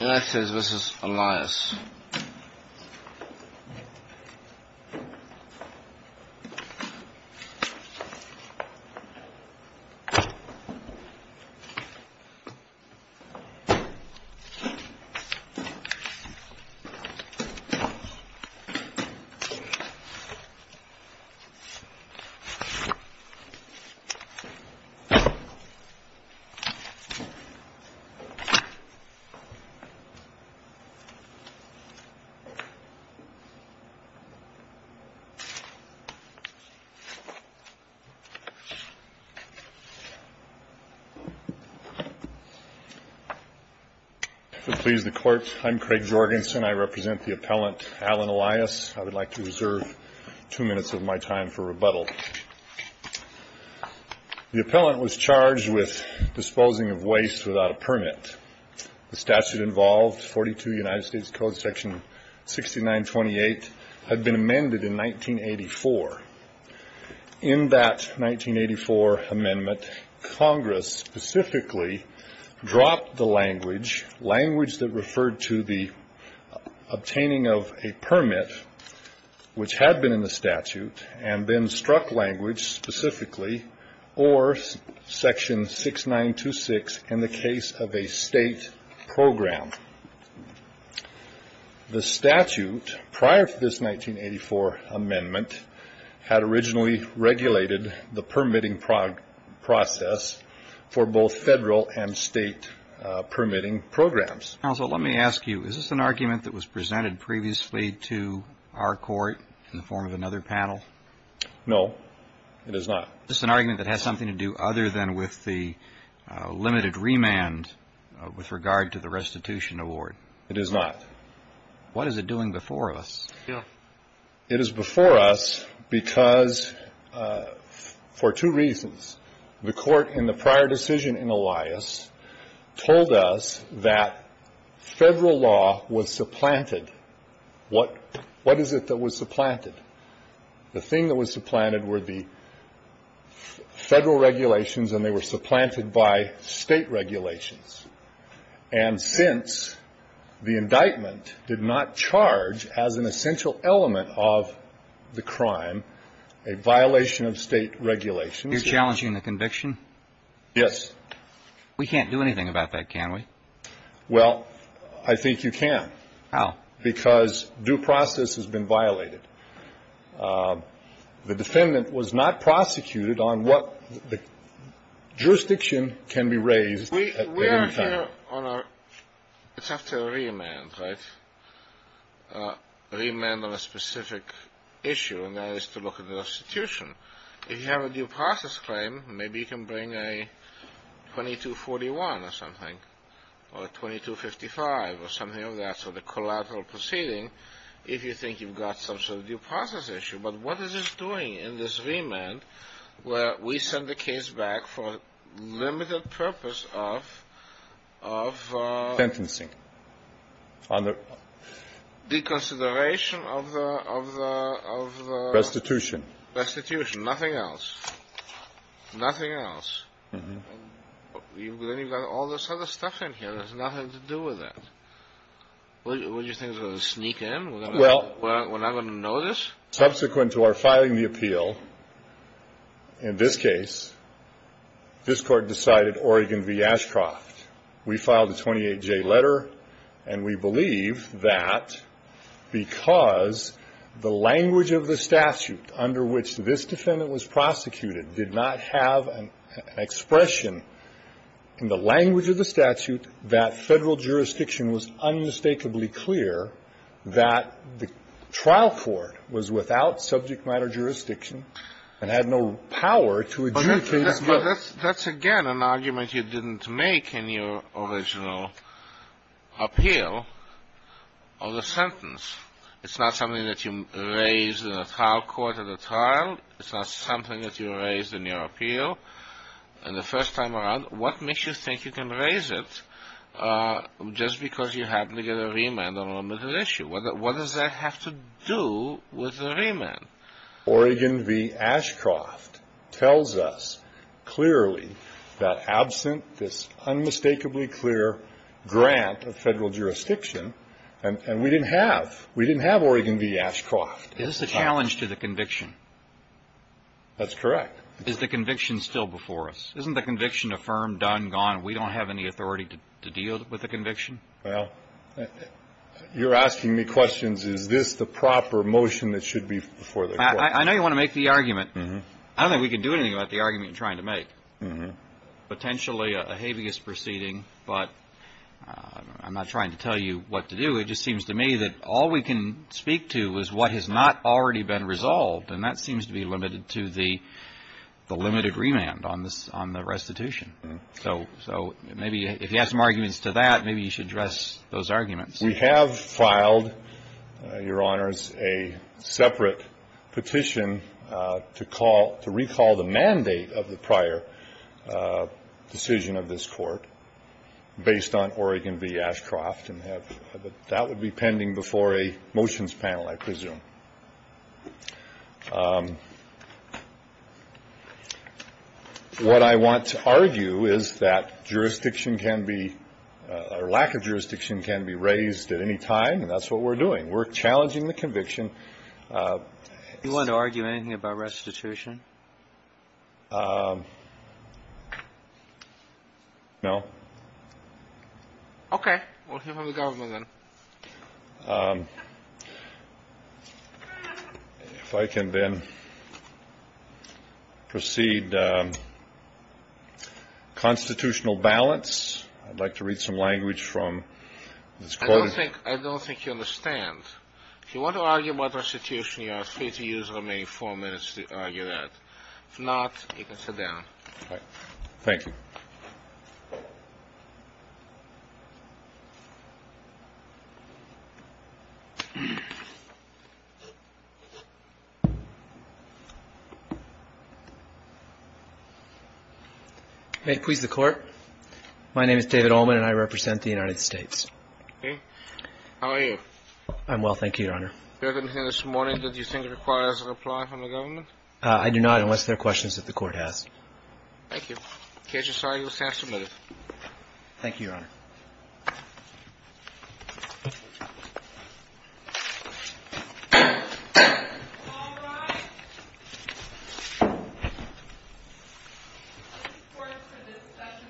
This is Elias. I'm Craig Jorgensen. I represent the appellant Alan Elias. I would like to reserve two minutes of my time for rebuttal. The appellant was charged with disposing of waste without a permit. The statute involved 42 United States Code section 6928 had been amended in 1984. In that 1984 amendment, Congress specifically dropped the language, language that referred to the obtaining of a permit, which had been in the statute, and then struck language specifically or section 6926 in the case of a state program. The statute prior to this 1984 amendment had originally regulated the permitting process for both federal and state permitting programs. Counsel, let me ask you, is this an argument that was presented previously to our court in the form of another panel? No, it is not. Is this an argument that has something to do other than with the limited remand with regard to the restitution award? It is not. What is it doing before us? It is before us because, for two reasons, the court in the prior decision in Elias told us that federal law was supplanted. What is it that was supplanted? The thing that was supplanted were the federal regulations, and they were supplanted by state of the crime, a violation of state regulations. You're challenging the conviction? Yes. We can't do anything about that, can we? Well, I think you can. How? Because due process has been violated. The defendant was not prosecuted on what the jurisdiction can be raised at any time. It is after a remand, right? A remand on a specific issue, and that is to look at the restitution. If you have a due process claim, maybe you can bring a 2241 or something, or a 2255 or something like that, so the collateral proceeding, if you think you've got some sort of due process issue. But what is this doing in this remand where we send the case back for a limited purpose of... Sentencing. ...deconsideration of the... Restitution. Restitution. Nothing else. Nothing else. Then you've got all this other stuff in here that has nothing to do with that. What, do you think we're going to sneak in? We're not going to notice? Subsequent to our filing the appeal, in this case, this Court decided Oregon v. Ashcroft. We filed a 28J letter, and we believe that because the language of the statute under which this defendant was prosecuted did not have an expression in the language of the statute, that Federal jurisdiction was unmistakably clear that the trial court was without subject matter jurisdiction and had no power to adjudicate... But that's, again, an argument you didn't make in your original appeal of the sentence. It's not something that you raised in a trial court at a trial. It's not something that you raised in your appeal. And the first time around, what makes you think you can raise it just because you happen to get a remand on a limited issue? What does that have to do with the remand? Oregon v. Ashcroft tells us clearly that absent this unmistakably clear grant of Federal jurisdiction, and we didn't have. We didn't have Oregon v. Ashcroft. Is this a challenge to the conviction? That's correct. Is the conviction still before us? Isn't the conviction affirmed, done, gone? We don't have any authority to deal with the conviction? Well, you're asking me questions. Is this the proper motion that should be before the court? I know you want to make the argument. I don't think we can do anything about the argument you're trying to make. Potentially a habeas proceeding, but I'm not trying to tell you what to do. It just seems to me that all we can speak to is what has not already been resolved, and that seems to be limited to the limited remand on the restitution. So maybe if you have some arguments to that, maybe you should address those arguments. We have filed, Your Honors, a separate petition to call to recall the mandate of the prior decision of this court based on Oregon v. Ashcroft, and that would be pending What I want to argue is that jurisdiction can be, or lack of jurisdiction can be raised at any time, and that's what we're doing. We're challenging the conviction. Do you want to argue anything about restitution? No. Okay. We'll hear from the government then. If I can then proceed. Constitutional balance. I'd like to read some language from this quote. I don't think you understand. If you want to argue about restitution, you are free to use the remaining four minutes to argue that. If not, you can sit down. Thank you. May it please the Court. My name is David Ullman, and I represent the United States. How are you? I'm well, thank you, Your Honor. Do you have anything this morning that you think requires a reply from the government? I do not, unless there are questions that the Court has. Thank you. In case you're sorry, you will stand submitted. Thank you, Your Honor. All rise. This Court's for discussion stands adjourned.